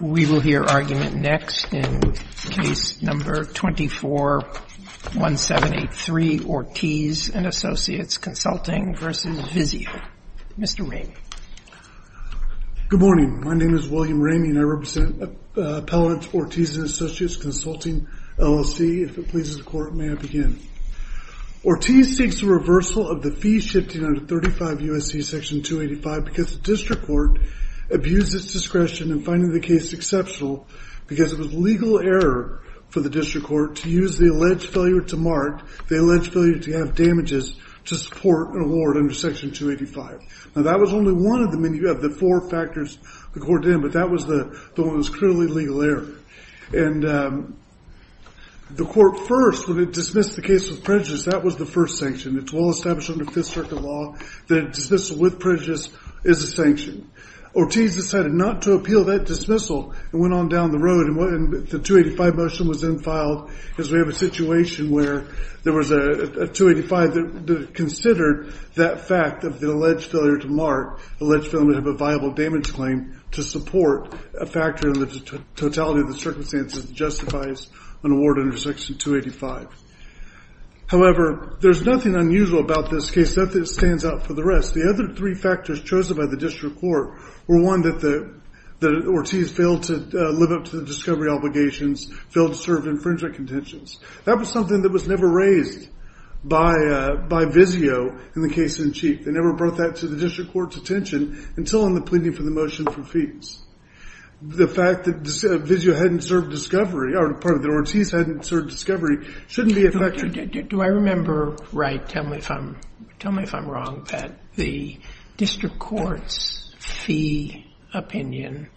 We will hear argument next in Case No. 24-1783, Ortiz & Associates Consulting v. VIZIO. Mr. Ramey. Good morning. My name is William Ramey and I represent Appellants Ortiz & Associates Consulting, LLC. If it pleases the Court, may I begin? Ortiz seeks the reversal of the fee shifting under 35 U.S.C. Section 285 because the District Court abused its discretion in finding the case exceptional because it was legal error for the District Court to use the alleged failure to mark the alleged failure to have damages to support an award under Section 285. Now that was only one of the many, you have the four factors the Court did, but that was the one that was truly legal error. And the Court first, when it dismissed the case with prejudice, that was the first sanction. It's well established under Fifth Circuit law that dismissal with prejudice is a sanction. Ortiz decided not to appeal that dismissal and went on down the road and the 285 motion was then filed because we have a situation where there was a 285 that considered that fact of the alleged failure to mark, alleged failure to have a viable damage claim to support a factor in the totality of the circumstances that justifies an award under Section 285. However, there's nothing unusual about this case, nothing that stands out from the rest. The other three factors chosen by the District Court were one that Ortiz failed to live up to the discovery obligations, failed to serve infringement contentions. That was something that was never raised by Vizio in the case in chief. They never brought that to the District Court's attention until on the pleading for the motion for fees. The fact that Vizio hadn't served discovery, or the part that Ortiz hadn't served discovery, shouldn't be a factor. Do I remember right? Tell me if I'm wrong, Pat. The District Court's fee opinion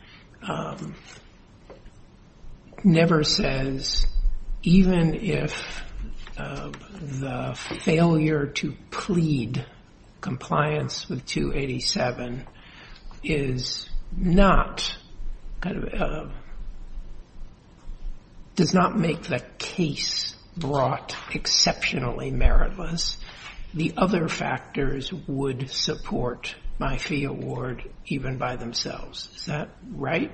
never says even if the failure to plead compliance with 287 is not, does not make the case brought exceptionally meritless. The other factors would support my fee award even by themselves. Is that right?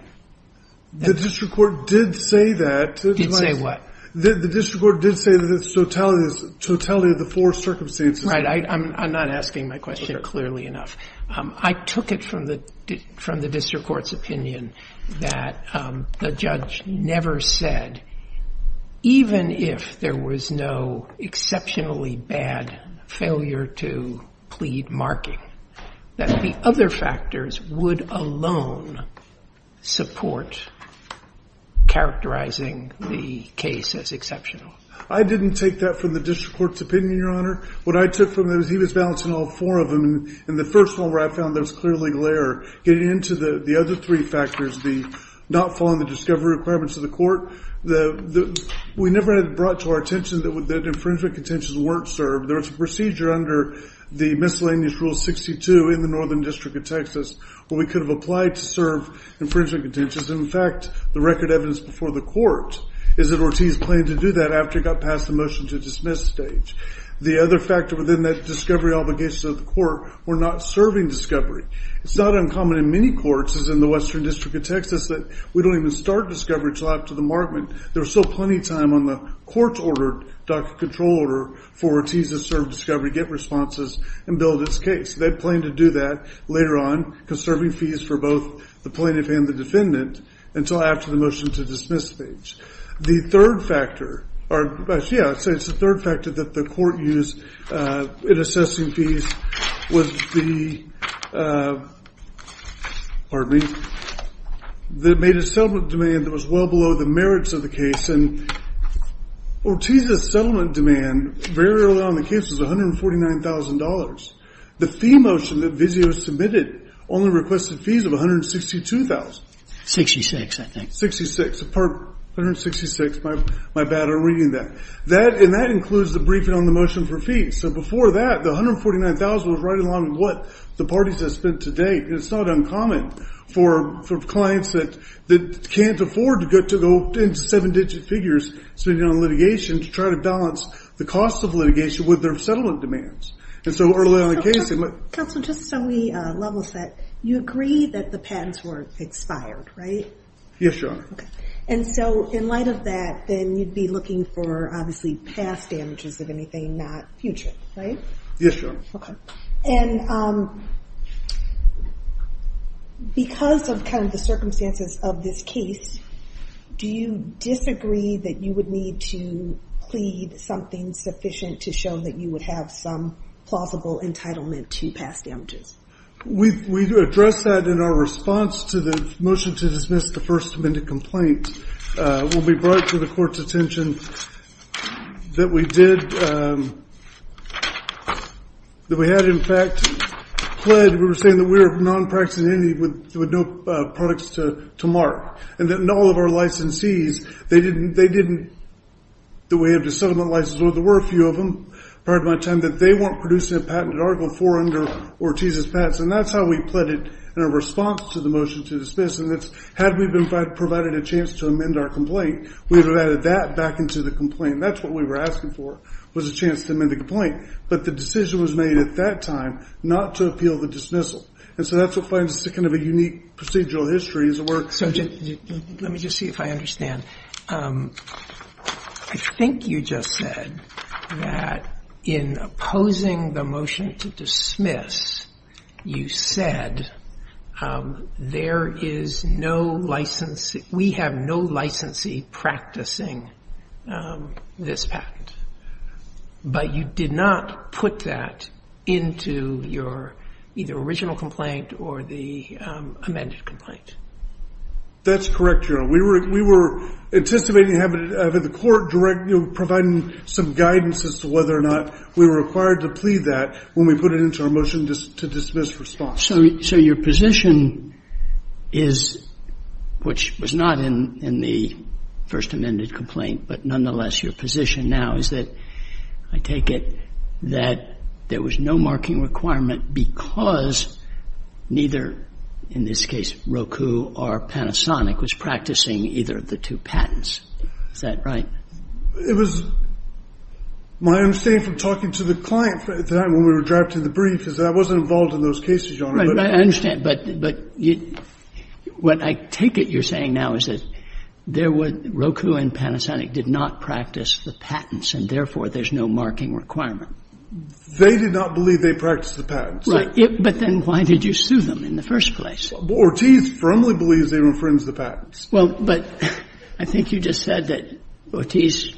The District Court did say that. Did say what? The District Court did say that the totality of the four circumstances. Right. I'm not asking my question clearly enough. I took it from the District Court's opinion that the judge never said even if there was no exceptionally bad failure to plead marking, that the other factors would alone support characterizing the case as exceptional. I didn't take that from the District Court's opinion, Your Honor. What I took from it was he was balancing all four of them, and the first one where I found there was clearly glare. Getting into the other three factors, the not following the discovery requirements of the court, we never had brought to our attention that infringement contentions weren't served. There was a procedure under the Miscellaneous Rule 62 in the Northern District of Texas where we could have applied to serve infringement contentions. In fact, the record evidence before the court is that Ortiz planned to do that after he got past the motion to dismiss stage. The other factor within that discovery obligation to the court were not serving discovery. It's not uncommon in many courts, as in the Western District of Texas, that we don't even start discovery until after the markment. There was still plenty of time on the court-ordered docket control order for Ortiz to serve discovery, get responses, and build his case. They planned to do that later on, conserving fees for both the plaintiff and the defendant, until after the motion to dismiss stage. The third factor that the court used in assessing fees was the settlement demand that was well below the merits of the case. Ortiz's settlement demand very early on in the case was $149,000. The fee motion that Vizio submitted only requested fees of $162,000. 66, I think. 66. 166. My bad. I'm reading that. And that includes the briefing on the motion for fees. So before that, the $149,000 was right along with what the parties had spent to date. And it's not uncommon for clients that can't afford to go into seven-digit figures spending on litigation to try to balance the cost of litigation with their settlement demands. And so early on in the case, they might- Counsel, just so we level set, you agree that the patents were expired, right? Yes, Your Honor. Okay. And so in light of that, then you'd be looking for, obviously, past damages of anything, not future, right? Yes, Your Honor. Okay. And because of kind of the circumstances of this case, do you disagree that you would need to plead something sufficient to show that you would have some plausible entitlement to past damages? We addressed that in our response to the motion to dismiss the first amended complaint. It will be bright for the Court's attention that we did-that we had, in fact, pled. We were saying that we were non-practicing entity with no products to mark. And that in all of our licensees, they didn't-that we had a settlement license, although there were a few of them prior to my time, that they weren't producing a patented article for under Ortiz's patents. And that's how we pled it in our response to the motion to dismiss. And that's-had we been provided a chance to amend our complaint, we would have added that back into the complaint. That's what we were asking for, was a chance to amend the complaint. But the decision was made at that time not to appeal the dismissal. And so that's what finds kind of a unique procedural history is where- Let me just see if I understand. I think you just said that in opposing the motion to dismiss, you said there is no license-we have no licensee practicing this patent. But you did not put that into your either original complaint or the amended complaint. That's correct, Your Honor. We were anticipating having the court direct-providing some guidance as to whether or not we were required to plead that when we put it into our motion to dismiss response. So your position is-which was not in the first amended complaint, but nonetheless your position now is that-I take it that there was no marking requirement because neither, in this case, Roku or Panasonic was practicing either of the two patents. Is that right? It was-my understanding from talking to the client when we were drafted in the brief is that I wasn't involved in those cases, Your Honor. I understand. But what I take it you're saying now is that there was-Roku and Panasonic did not practice the patents, and therefore there's no marking requirement. They did not believe they practiced the patents. Right. But then why did you sue them in the first place? Ortiz firmly believes they've infringed the patents. Well, but I think you just said that Ortiz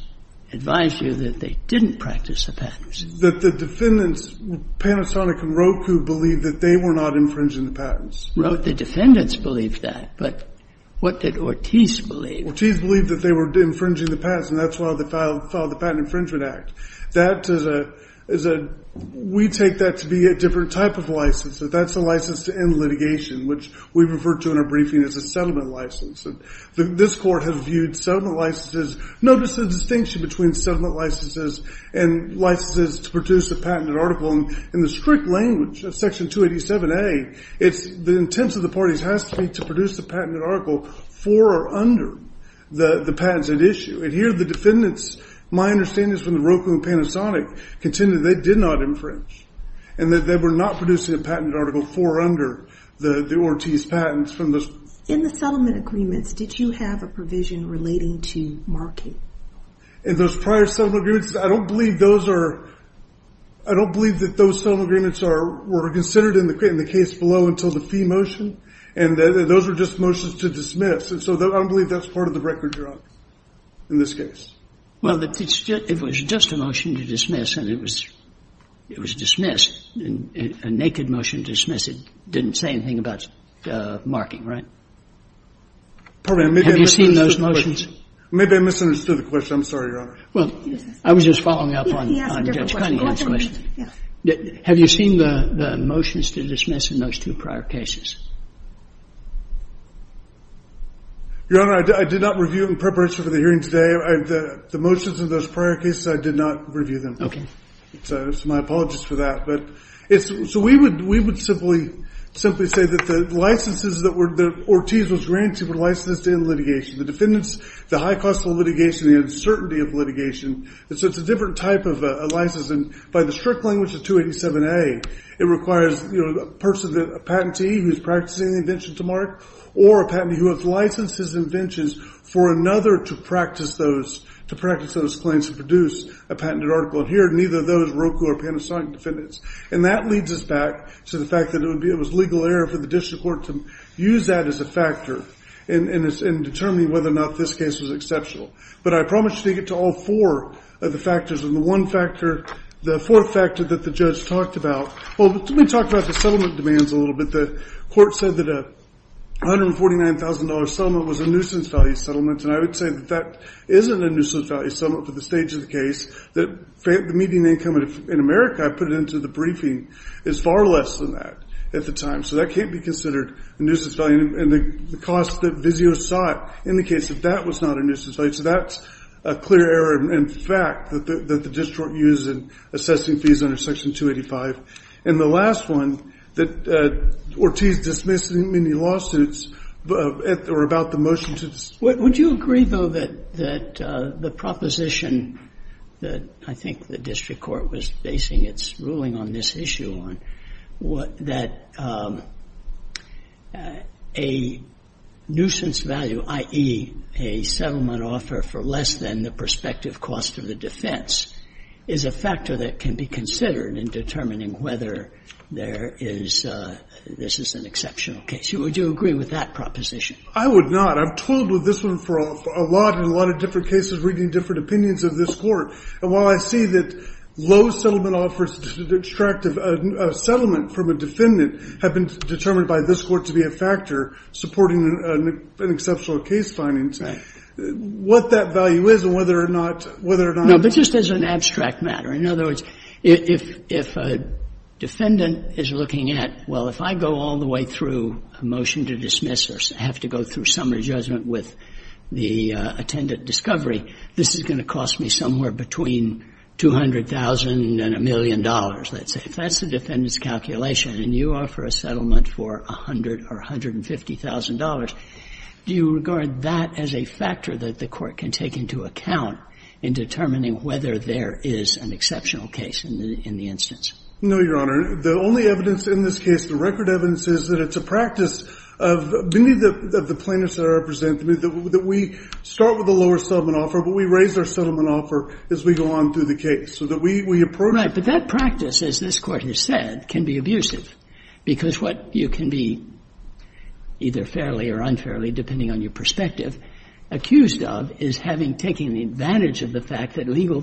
advised you that they didn't practice the patents. That the defendants, Panasonic and Roku, believed that they were not infringing the patents. Well, the defendants believed that, but what did Ortiz believe? Ortiz believed that they were infringing the patents, and that's why they filed the Patent Infringement Act. That is a-we take that to be a different type of license. That's a license to end litigation, which we refer to in our briefing as a settlement license. This Court has viewed settlement licenses-notice the distinction between settlement licenses and licenses to produce a patented article. In the strict language of Section 287A, the intent of the parties has to be to produce a patented article for or under the patents at issue. And here, the defendants, my understanding is from the Roku and Panasonic, contended they did not infringe, and that they were not producing a patented article for or under the Ortiz patents from the- In the settlement agreements, did you have a provision relating to marking? In those prior settlement agreements, I don't believe those are-I don't believe that those settlement agreements were considered in the case below until the fee motion, and those were just motions to dismiss. And so I don't believe that's part of the record, Your Honor, in this case. Well, it was just a motion to dismiss, and it was dismissed, a naked motion to dismiss. It didn't say anything about marking, right? Have you seen those motions? Maybe I misunderstood the question. I'm sorry, Your Honor. Well, I was just following up on Judge Cunningham's question. Have you seen the motions to dismiss in those two prior cases? Your Honor, I did not review in preparation for the hearing today. The motions in those prior cases, I did not review them. So my apologies for that. So we would simply say that the licenses that Ortiz was granted were licensed in litigation. The defendants, the high cost of litigation, the uncertainty of litigation, and so it's a different type of license, and by the strict language of 287A, it requires a person, a patentee, who's practicing the invention to mark, or a patentee who has licensed his inventions for another to practice those claims to produce a patented article. And here, neither of those Roku or Panasonic defendants. And that leads us back to the fact that it was legal error for the district court to use that as a factor in determining whether or not this case was exceptional. But I promise you to get to all four of the factors. And the one factor, the fourth factor that the judge talked about, well, let me talk about the settlement demands a little bit. The court said that a $149,000 settlement was a nuisance value settlement, and I would say that that isn't a nuisance value settlement for the stage of the case. The median income in America, I put it into the briefing, is far less than that at the time. So that can't be considered a nuisance value. And the cost that Vizio sought in the case of that was not a nuisance value. So that's a clear error in fact that the district used in assessing fees under Section 285. And the last one that Ortiz dismissed in many lawsuits were about the motion to the state. Would you agree, though, that the proposition that I think the district court was basing its ruling on this issue on, that a nuisance value, i.e., a settlement offer for less than the prospective cost of the defense, is a factor that can be considered in determining whether there is this is an exceptional case? Would you agree with that proposition? I would not. I've toiled with this one for a lot, in a lot of different cases, reading different opinions of this Court. And while I see that low settlement offers to extract a settlement from a defendant have been determined by this Court to be a factor supporting an exceptional case finding, what that value is and whether or not, whether or not I'm wrong. No, but just as an abstract matter. In other words, if a defendant is looking at, well, if I go all the way through a motion to dismiss or have to go through summary judgment with the attendant discovery, this is going to cost me somewhere between $200,000 and $1 million, let's say, if that's the defendant's calculation, and you offer a settlement for $100,000 or $150,000, do you regard that as a factor that the Court can take into account in determining whether there is an exceptional case in the instance? No, Your Honor. The only evidence in this case, the record evidence, is that it's a practice of many of the plaintiffs that I represent, that we start with a lower settlement offer, but we raise our settlement offer as we go on through the case. So that we approach it. Right. But that practice, as this Court has said, can be abusive, because what you can be either fairly or unfairly, depending on your perspective, accused of is having taken advantage of the fact that legal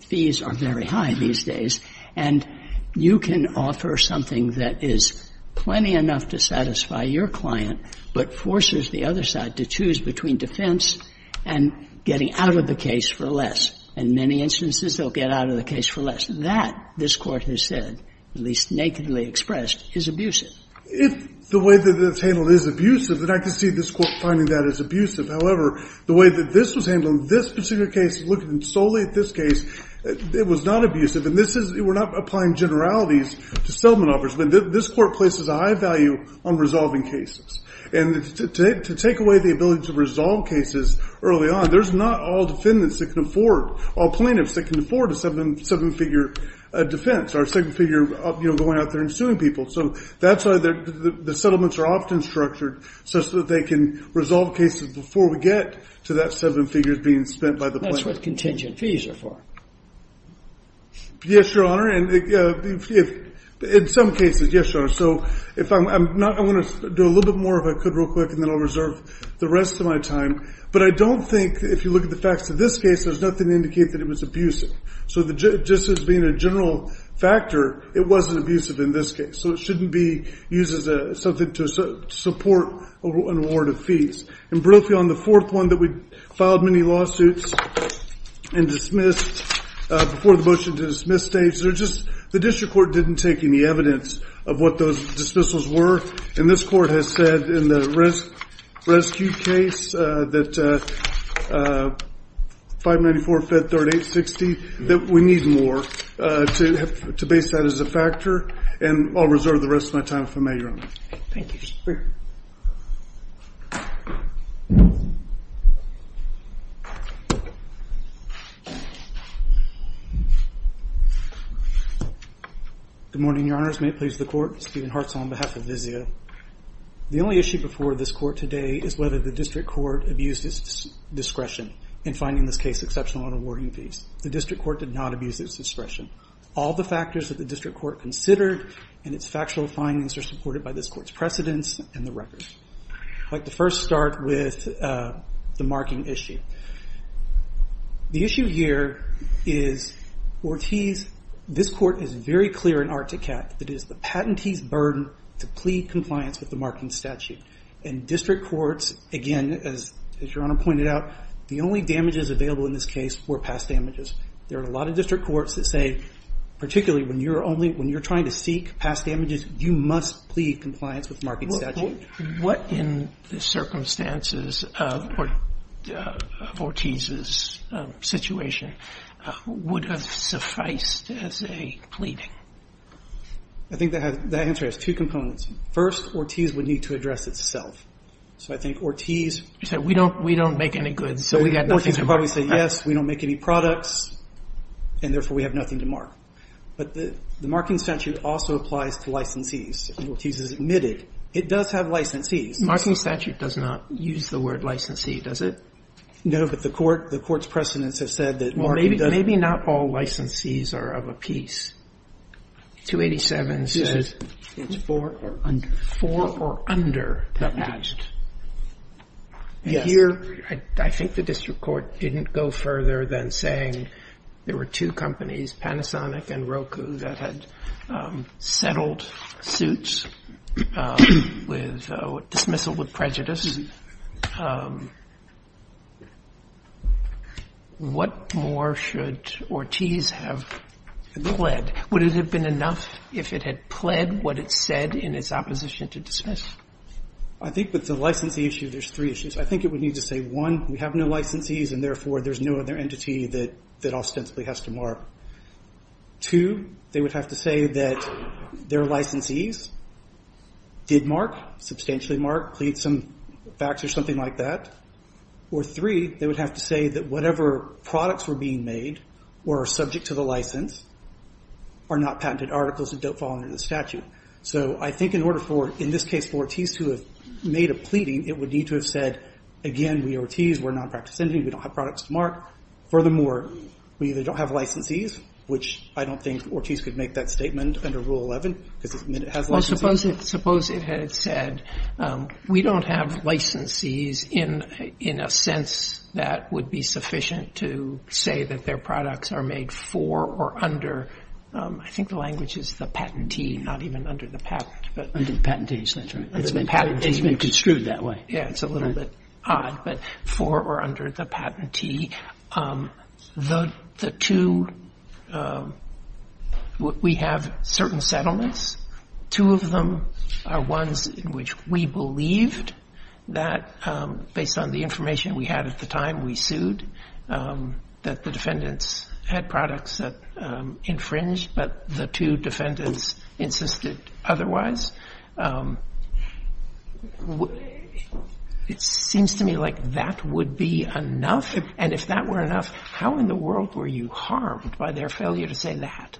fees are very high these days, and you can offer something that is plenty enough to satisfy your client, but forces the other side to choose between defense and getting out of the case for less. In many instances, they'll get out of the case for less. That, this Court has said, at least nakedly expressed, is abusive. If the way that it's handled is abusive, then I could see this Court finding that as abusive. However, the way that this was handled in this particular case, looking solely at this case, it was not abusive. And this is, we're not applying generalities to settlement offers, but this Court places a high value on resolving cases. And to take away the ability to resolve cases early on, there's not all defendants that can afford, all plaintiffs that can afford a seven-figure defense, or a seven-figure going out there and suing people. So that's why the settlements are often structured, so that they can resolve cases before we get to that seven figures being spent by the plaintiff. And that's what contingent fees are for. Yes, Your Honor. And in some cases, yes, Your Honor. So if I'm not, I want to do a little bit more if I could real quick, and then I'll reserve the rest of my time. But I don't think, if you look at the facts of this case, there's nothing to indicate that it was abusive. So just as being a general factor, it wasn't abusive in this case. So it shouldn't be used as something to support an award of fees. And briefly, on the fourth one that we filed many lawsuits and dismissed before the motion to dismiss states, the district court didn't take any evidence of what those dismissals were. And this court has said in the rescue case, that 594-538-60, that we need more to base that as a factor. And I'll reserve the rest of my time if I may, Your Honor. Thank you. Please be free. Good morning, Your Honors. May it please the court, Stephen Hartzell on behalf of Vizio. The only issue before this court today is whether the district court abused its discretion in finding this case exceptional in awarding fees. The district court did not abuse its discretion. All the factors that the district court considered in its factual findings are its precedents and the records. I'd like to first start with the marking issue. The issue here is Ortiz. This court is very clear in Articat that it is the patentee's burden to plead compliance with the marking statute. And district courts, again, as Your Honor pointed out, the only damages available in this case were past damages. There are a lot of district courts that say, particularly when you're trying to seek past damages, you must plead compliance with the marking statute. What, in the circumstances of Ortiz's situation, would have sufficed as a pleading? I think that answer has two components. First, Ortiz would need to address itself. So I think Ortiz. You said we don't make any goods, so we've got nothing to mark. Yes, we don't make any products, and therefore we have nothing to mark. But the marking statute also applies to licensees. Ortiz has admitted it does have licensees. Marking statute does not use the word licensee, does it? No, but the court's precedents have said that marking does. Well, maybe not all licensees are of a piece. 287 says it's for or under. For or under the patent. Yes. And here I think the district court didn't go further than saying there were two companies, Panasonic and Roku, that had settled suits with dismissal with prejudice. What more should Ortiz have pled? Would it have been enough if it had pled what it said in its opposition to dismiss? I think with the licensee issue, there's three issues. I think it would need to say, one, we have no licensees, and therefore there's no other entity that ostensibly has to mark. Two, they would have to say that their licensees did mark, substantially mark, plead some facts or something like that. Or three, they would have to say that whatever products were being made or are subject to the license are not patented articles that don't fall under the statute. So I think in order for, in this case, for Ortiz to have made a pleading, it would need to have said, again, we are Ortiz, we're a nonpractice entity, we don't have products to mark. Furthermore, we either don't have licensees, which I don't think Ortiz could make that statement under Rule 11 because it has licensees. Well, suppose it had said we don't have licensees in a sense that would be sufficient to say that their products are made for or under, I think the language is the patentee, not even under the patent. Under the patentee, that's right. It's been construed that way. Yeah, it's a little bit odd, but for or under the patentee. The two, we have certain settlements. Two of them are ones in which we believed that, based on the information we had at the time we sued, that the defendants had products that infringed, but the two defendants insisted otherwise. It seems to me like that would be enough, and if that were enough, how in the world were you harmed by their failure to say that?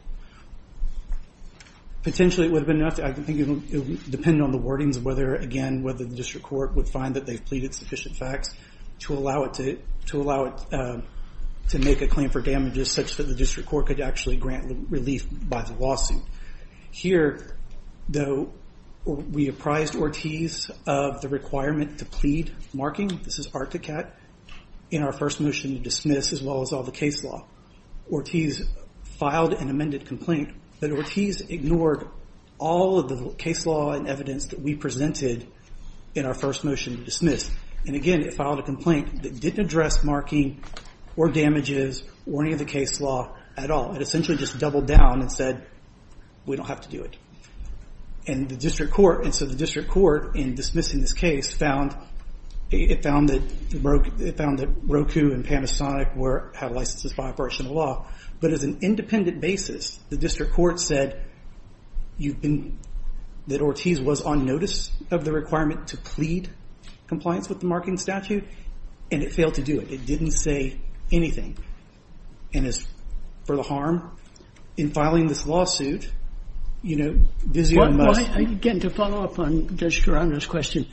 Potentially it would have been enough. I think it would depend on the wordings of whether, again, whether the district court would find that they've pleaded sufficient facts to allow it to make a claim for damages such that the district court could actually grant relief by the lawsuit. Here, though, we apprised Ortiz of the requirement to plead marking, this is Articat, in our first motion to dismiss as well as all the case law. Ortiz filed an amended complaint, but Ortiz ignored all of the case law and evidence that we presented in our first motion to dismiss. And, again, it filed a complaint that didn't address marking or damages or any of the case law at all. It essentially just doubled down and said, we don't have to do it. And the district court, and so the district court, in dismissing this case, found that Roku and Panasonic have licenses by operational law, but as an independent basis, the district court said that Ortiz was on notice of the requirement to plead compliance with the marking statute, and it failed to do it. It didn't say anything. And as for the harm, in filing this lawsuit, you know, this is a must. Again, to follow up on Judge Gerardo's question,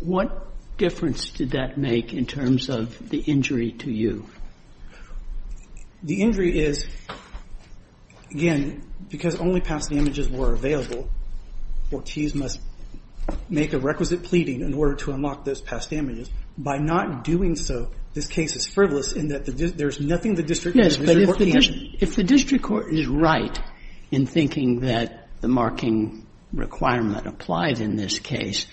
what difference did that make in terms of the injury to you? The injury is, again, because only past damages were available, Ortiz must make a requisite pleading in order to unlock those past damages. By not doing so, this case is frivolous in that there's nothing the district court can't do. Yes, but if the district court is right in thinking that the marking requirement applied in this case,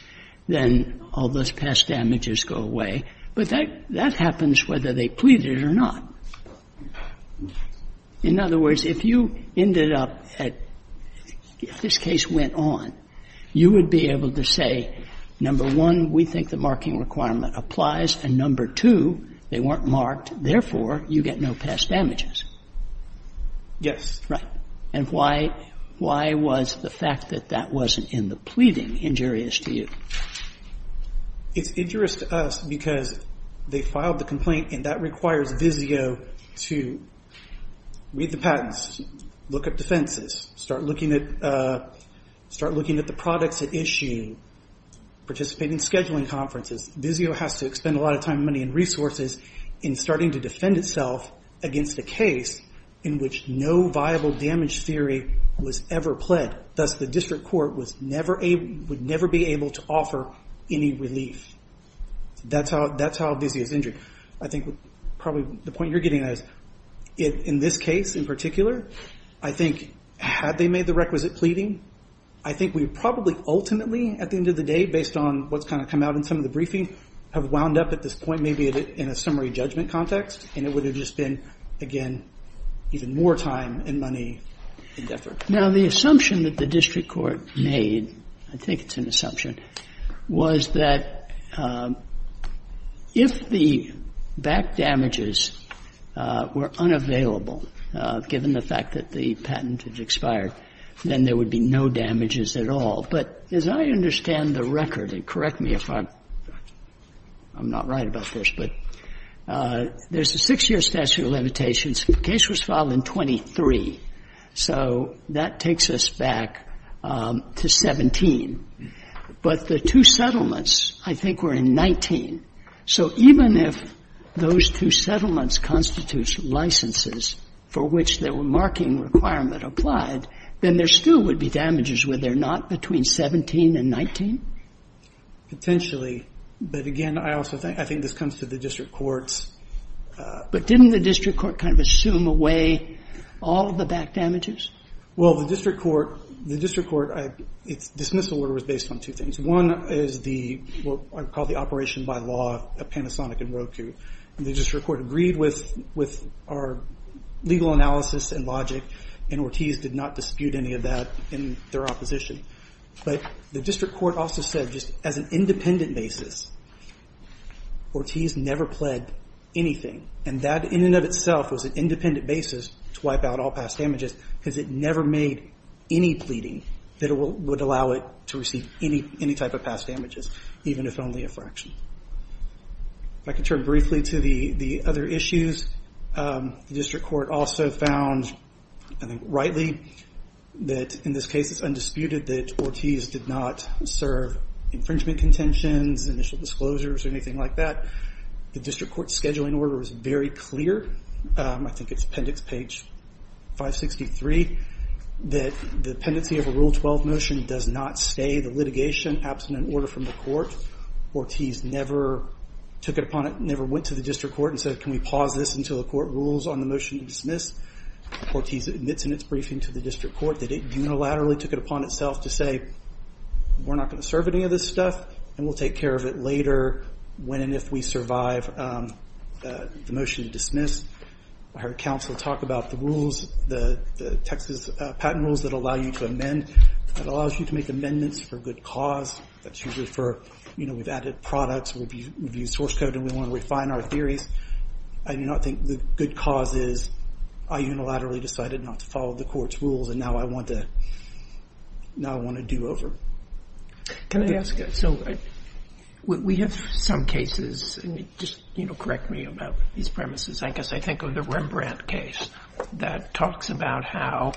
then all those past damages go away. But that happens whether they pleaded or not. In other words, if you ended up at, if this case went on, you would be able to say, number one, we think the marking requirement applies, and number two, they weren't marked, therefore, you get no past damages. Right. And why was the fact that that wasn't in the pleading injurious to you? It's injurious to us because they filed the complaint, and that requires VIZIO to read the patents, look up defenses, start looking at the products at issue, participate in scheduling conferences. VIZIO has to spend a lot of time, money, and resources in starting to defend itself against a case in which no viable damage theory was ever pled. Thus, the district court would never be able to offer any relief. That's how VIZIO is injured. I think probably the point you're getting at is, in this case in particular, I think had they made the requisite pleading, I think we would probably ultimately at the end of the day, based on what's kind of come out in some of the briefing, have wound up at this point maybe in a summary judgment context, and it would have just been, again, even more time and money and effort. Now, the assumption that the district court made, I think it's an assumption, was that if the back damages were unavailable, given the fact that the patent had expired, then there would be no damages at all. But as I understand the record, and correct me if I'm not right about this, but there's a 6-year statute of limitations. The case was filed in 23. So that takes us back to 17. But the two settlements, I think, were in 19. So even if those two settlements constitute licenses for which the marking requirement applied, then there still would be damages, would there not, between 17 and 19? Potentially. But again, I also think this comes to the district courts. But didn't the district court kind of assume away all of the back damages? Well, the district court, its dismissal order was based on two things. One is what I would call the operation by law of Panasonic and Roku. The district court agreed with our legal analysis and logic, and Ortiz did not dispute any of that in their opposition. But the district court also said just as an independent basis, Ortiz never pled anything. And that in and of itself was an independent basis to wipe out all past damages because it never made any pleading that it would allow it to receive any type of past damages, even if only a fraction. If I could turn briefly to the other issues, the district court also found, I think rightly, that in this case it's undisputed that Ortiz did not serve infringement contentions, initial disclosures, or anything like that. The district court's scheduling order was very clear. I think it's appendix page 563, that the pendency of a Rule 12 motion does not stay the litigation, absent an order from the court. Ortiz never took it upon it, never went to the district court and said, can we pause this until the court rules on the motion to dismiss? Ortiz admits in its briefing to the district court that it unilaterally took it upon itself to say, we're not going to serve any of this stuff, and we'll take care of it later when and if we survive the motion to dismiss. I heard counsel talk about the rules, the Texas patent rules that allow you to amend, that allows you to make amendments for good cause. That's usually for, you know, we've added products, we've used source code, and we want to refine our theories. I do not think the good cause is, I unilaterally decided not to follow the court's rules, and now I want to do over. Can I ask, so we have some cases, and just, you know, correct me about these premises, I guess I think of the Rembrandt case that talks about how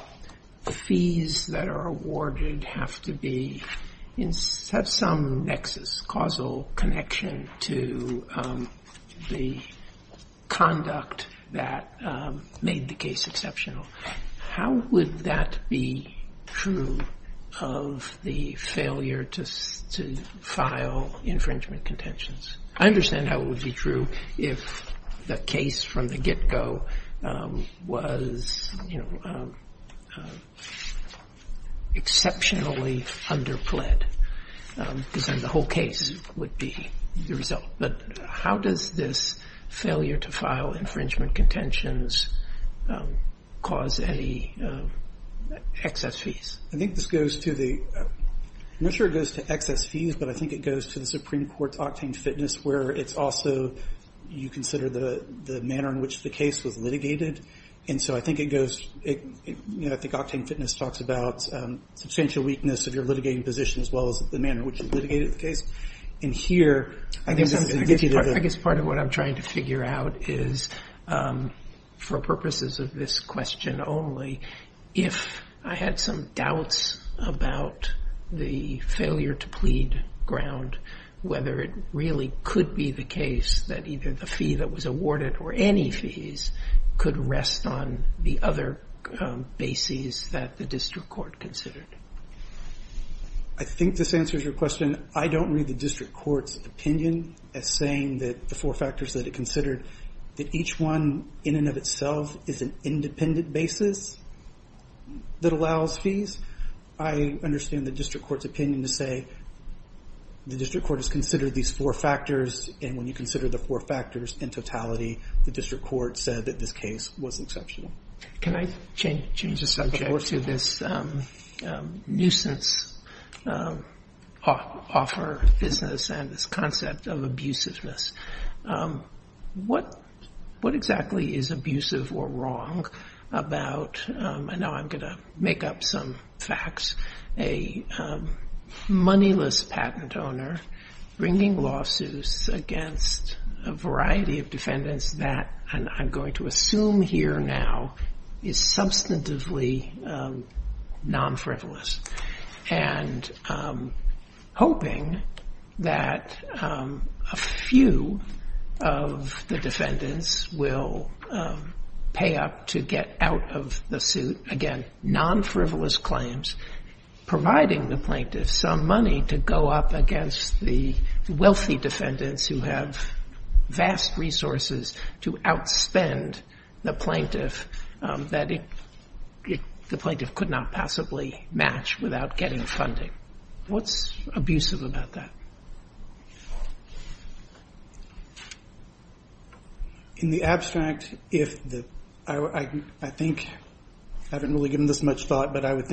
the fees that are awarded have to be, have some nexus, causal connection to the conduct that made the case exceptional. How would that be true of the failure to file infringement contentions? I understand how it would be true if the case from the get-go was, you know, exceptionally under-pled, because then the whole case would be the result. But how does this failure to file infringement contentions cause any excess fees? I think this goes to the, I'm not sure it goes to excess fees, but I think it goes to the Supreme Court's octane fitness, where it's also, you consider the manner in which the case was litigated. And so I think it goes, you know, I think octane fitness talks about substantial weakness of your litigating position as well as the manner in which you litigated the case. And here, I guess I'm going to get you there. I guess part of what I'm trying to figure out is, for purposes of this question only, if I had some doubts about the failure to plead ground, whether it really could be the case that either the fee that was awarded or any fees could rest on the other bases that the district court considered. I think this answers your question. I don't read the district court's opinion as saying that the four factors that it considered, that each one in and of itself is an independent basis that allows fees. I understand the district court's opinion to say, the district court has considered these four factors, and when you consider the four factors in totality, the district court said that this case was exceptional. Can I change the subject to this nuisance offer business and this concept of abusiveness? What exactly is abusive or wrong about, and now I'm going to make up some facts, a moneyless patent owner bringing lawsuits against a variety of defendants that, and I'm going to assume here now, is substantively non-frivolous, and hoping that a few of the defendants will pay up to get out of the suit, again, non-frivolous claims, providing the plaintiff some money to go up against the wealthy defendants who have vast resources to outspend the plaintiff that the plaintiff could not possibly match without getting funding. What's abusive about that? In the abstract, I think, I haven't really given this much thought, but I would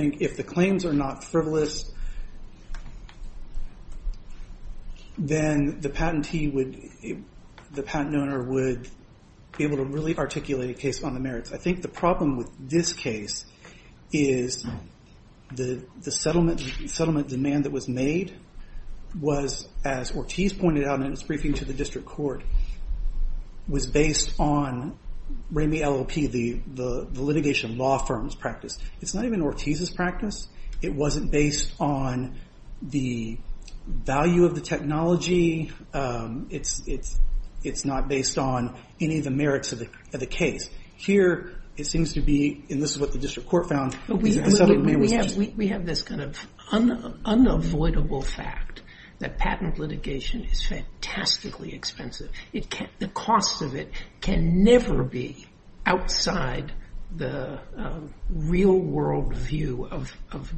then the patent owner would be able to really articulate a case on the merits. I think the problem with this case is the settlement demand that was made was, as Ortiz pointed out in his briefing to the district court, was based on Ramey LLP, the litigation law firm's practice. It's not even Ortiz's practice. It wasn't based on the value of the technology. It's not based on any of the merits of the case. Here, it seems to be, and this is what the district court found, the settlement demand was just- We have this kind of unavoidable fact that patent litigation is fantastically expensive. The cost of it can never be outside the real-world view of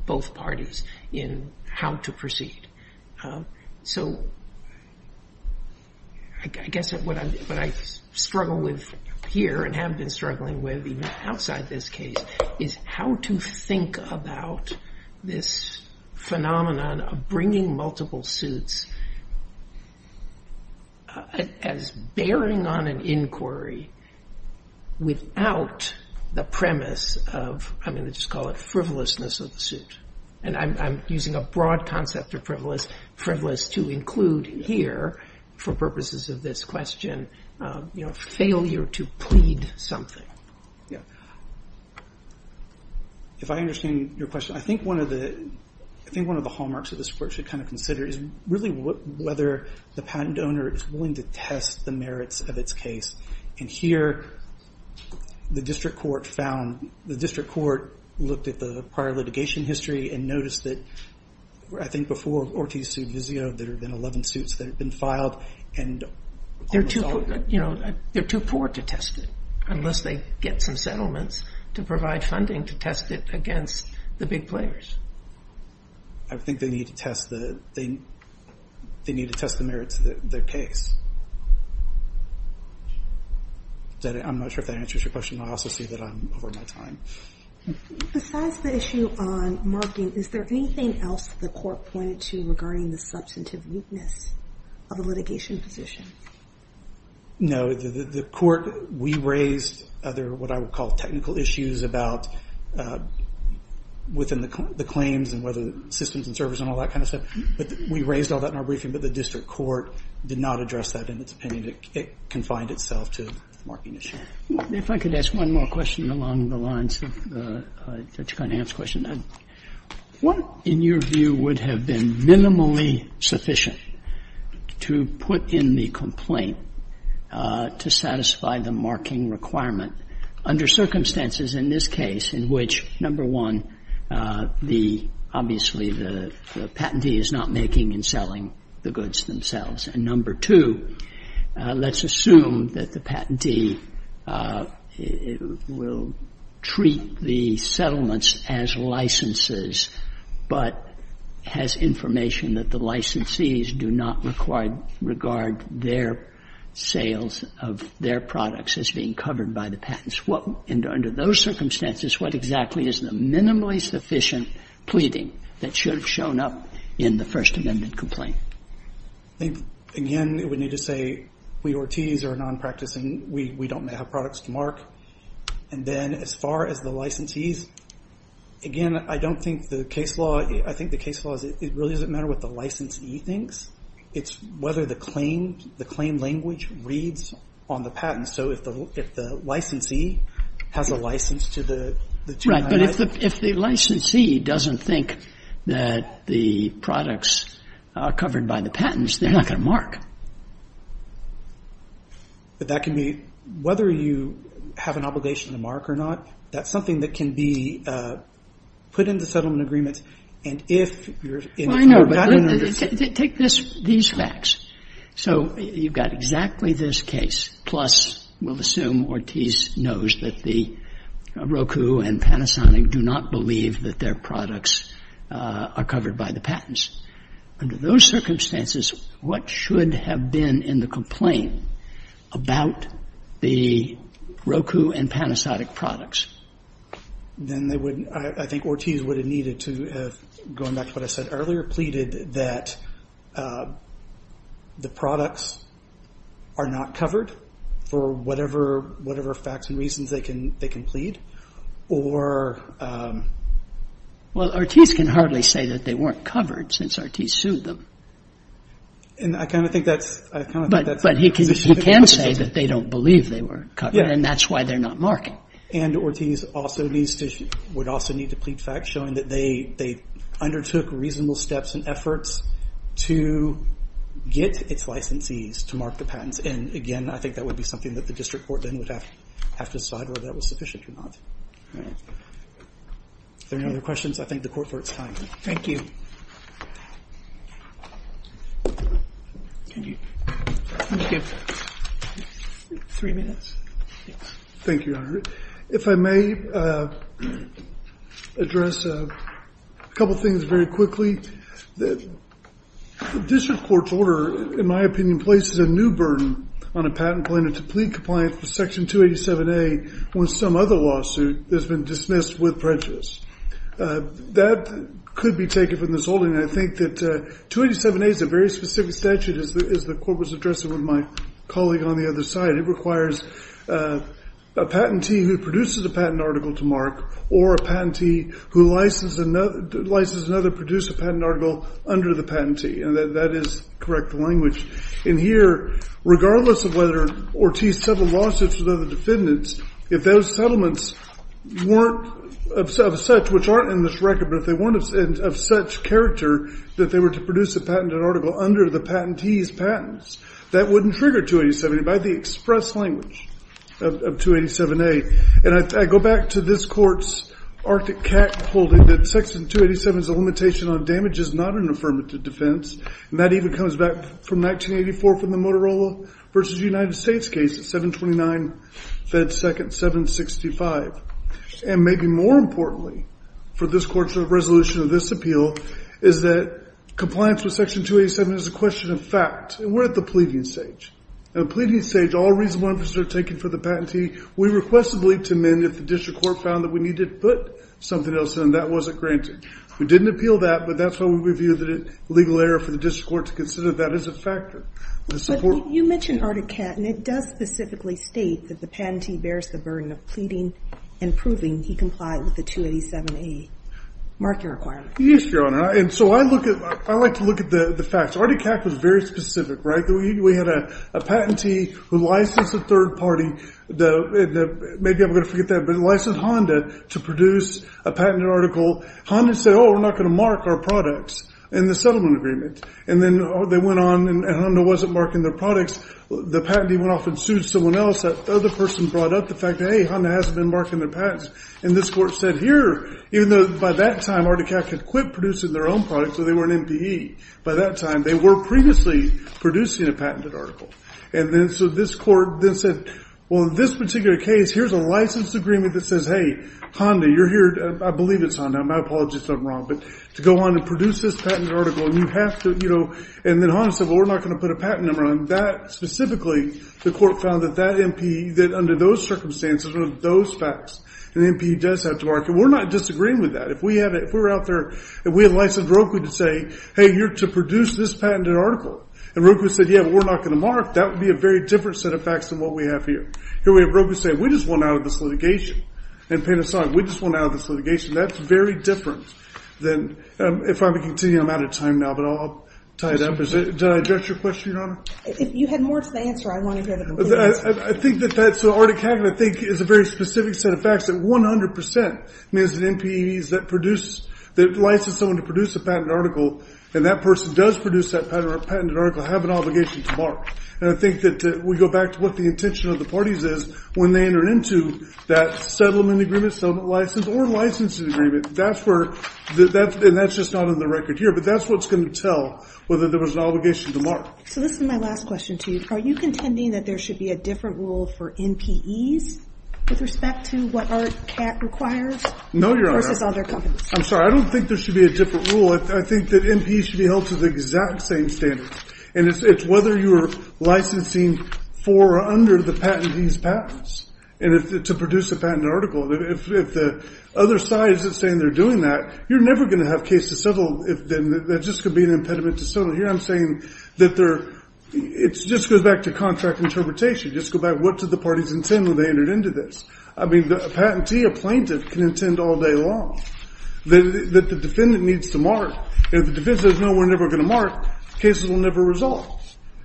both parties in how to proceed. So I guess what I struggle with here and have been struggling with even outside this case is how to think about this phenomenon of bringing multiple suits as bearing on an inquiry without the premise of, I'm going to just call it frivolousness of the suit. I'm using a broad concept of frivolous to include here for purposes of this question, failure to plead something. If I understand your question, I think one of the hallmarks of this work should kind of consider is really whether the patent owner is willing to test the merits of its case. And here, the district court found, the district court looked at the prior litigation history and noticed that, I think before Ortiz sued Vizio, there had been 11 suits that had been filed and- They're too poor to test it unless they get some settlements to provide funding to test it against the big players. I think they need to test the merits of their case. I'm not sure if that answers your question. I also see that I'm over my time. Besides the issue on marking, is there anything else the court pointed to regarding the substantive weakness of a litigation position? The court, we raised other what I would call technical issues about within the claims and whether systems and servers and all that kind of stuff. But we raised all that in our briefing, but the district court did not address that in its opinion. It confined itself to marking issue. If I could ask one more question along the lines of Judge Conant's question, what, in your view, would have been minimally sufficient to put in the complaint to satisfy the marking requirement under circumstances in this case in which, number one, the, obviously, the patentee is not making and selling the goods themselves, and number two, let's assume that the patentee will treat the settlements as licenses but has information that the licensees do not require, regard their sales of their products as being covered by the patents. What, under those circumstances, what exactly is the minimally sufficient pleading that should have shown up in the First Amendment complaint? I think, again, we need to say we Ortiz are nonpracticing. We don't have products to mark. And then as far as the licensees, again, I don't think the case law, I think the case law is it really doesn't matter what the licensee thinks. It's whether the claim language reads on the patent. So if the licensee has a license to the 299. Right, but if the licensee doesn't think that the products are covered by the patents, they're not going to mark. But that can be whether you have an obligation to mark or not. That's something that can be put into settlement agreement. And if you're in favor of that. Well, I know, but take these facts. So you've got exactly this case, plus we'll assume Ortiz knows that the Roku and Panasonic do not believe that their products are covered by the patents. Under those circumstances, what should have been in the complaint about the Roku and Panasonic products? Then they would, I think Ortiz would have needed to have, going back to what I said earlier, pleaded that the products are not covered for whatever facts and reasons they can plead. Well, Ortiz can hardly say that they weren't covered since Ortiz sued them. But he can say that they don't believe they weren't covered and that's why they're not marking. And Ortiz would also need to plead facts showing that they undertook reasonable steps and efforts to get its licensees to mark the patents. And again, I think that would be something that the district court then would have to decide whether that was sufficient or not. Are there any other questions? I thank the court for its time. Thank you. Can you give three minutes? Thank you, Your Honor. If I may address a couple things very quickly. The district court's order, in my opinion, places a new burden on a patent plaintiff to plead compliance with Section 287A when some other lawsuit has been dismissed with prejudice. That could be taken from this holding. I think that 287A is a very specific statute, as the court was addressing with my colleague on the other side. It requires a patentee who produces a patent article to mark or a patentee who licenses another to produce a patent article under the patentee. And that is correct language. And here, regardless of whether Ortiz settled lawsuits with other defendants, if those settlements weren't of such, which aren't in this record, but if they weren't of such character that they were to produce a patented article under the patentee's patents, that wouldn't trigger 287A by the express language of 287A. And I go back to this court's Arctic CAC holding that Section 287 is a limitation on damages, not an affirmative defense. And that even comes back from 1984 from the Motorola v. United States case, 729 Fed 2nd 765. And maybe more importantly for this court's resolution of this appeal is that compliance with Section 287 is a question of fact. And we're at the pleading stage. At the pleading stage, all reasonable inferences are taken for the patentee. We request a plea to amend if the district court found that we need to put something else in that wasn't granted. We didn't appeal that. But that's why we view that a legal error for the district court to consider that as a factor. But you mentioned Arctic CAC. And it does specifically state that the patentee bears the burden of pleading and proving he complied with the 287A. Mark your requirement. Yes, Your Honor. And so I like to look at the facts. Arctic CAC was very specific, right? We had a patentee who licensed a third party, maybe I'm going to forget that, but licensed Honda to produce a patented article. Honda said, oh, we're not going to mark our products in the settlement agreement. And then they went on, and Honda wasn't marking their products. The patentee went off and sued someone else. That other person brought up the fact that, hey, Honda hasn't been marking their patents. And this court said, here, even though by that time Arctic CAC had quit producing their own products, though they were an MPE, by that time they were previously producing a patented article. And then so this court then said, well, in this particular case, here's a license agreement that says, hey, Honda, you're here. I believe it's Honda. My apologies if I'm wrong. But to go on and produce this patented article, and you have to, you know. And then Honda said, well, we're not going to put a patent number on that. Specifically, the court found that that MPE, that under those circumstances or those facts, an MPE does have to mark it. We're not disagreeing with that. If we were out there and we had licensed Roku to say, hey, you're to produce this patented article. And Roku said, yeah, but we're not going to mark. That would be a very different set of facts than what we have here. Here we have Roku saying, we just want out of this litigation. And Panasonic, we just want out of this litigation. That's very different than, if I may continue, I'm out of time now. But I'll tie it up. Did I address your question, Your Honor? If you had more to the answer, I want to hear the conclusion. I think that that's what Arctic CAC, I think, is a very specific set of facts. That 100% means that MPEs that produce, that license someone to produce a patented article, and that person does produce that patented article, have an obligation to mark. And I think that we go back to what the intention of the parties is when they enter into that settlement agreement, settlement license, or licensing agreement. That's where, and that's just not on the record here, but that's what's going to tell whether there was an obligation to mark. So this is my last question to you. Are you contending that there should be a different rule for MPEs with respect to what Arctic CAC requires? No, Your Honor. Versus other companies? I'm sorry, I don't think there should be a different rule. I think that MPEs should be held to the exact same standards. And it's whether you're licensing for or under the patentee's patents to produce a patented article. If the other side is saying they're doing that, you're never going to have a case to settle if there just could be an impediment to settle. Here I'm saying that there, it just goes back to contract interpretation. Just go back, what do the parties intend when they enter into this? I mean, a patentee, a plaintiff, can intend all day long that the defendant needs to mark. And if the defendant says, no, we're never going to mark, cases will never resolve.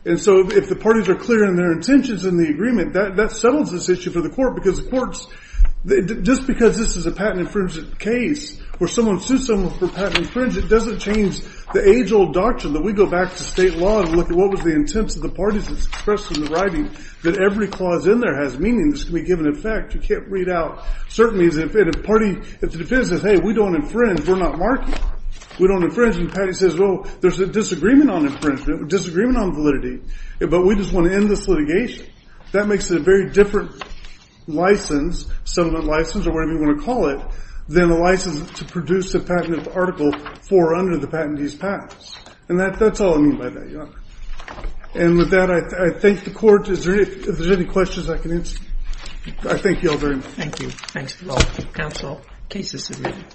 And so if the parties are clear in their intentions in the agreement, that settles this issue for the court because the courts, just because this is a patent infringement case where someone sued someone for patent infringement doesn't change the age-old doctrine that we go back to state law and look at what was the intents of the parties that's expressed in the writing. That every clause in there has meaning. This can be given effect. You can't read out certain things. If the defendant says, hey, we don't infringe, we're not marking. We don't infringe. And the patentee says, well, there's a disagreement on infringement, a disagreement on validity, but we just want to end this litigation. That makes it a very different license, settlement license, or whatever you want to call it, than a license to produce a patented article for or under the patentee's patents. And that's all I mean by that, Your Honor. And with that, I thank the Court. If there's any questions, I can answer. I thank you all very much. Thank you. Thanks to all. Counsel. Cases agreed.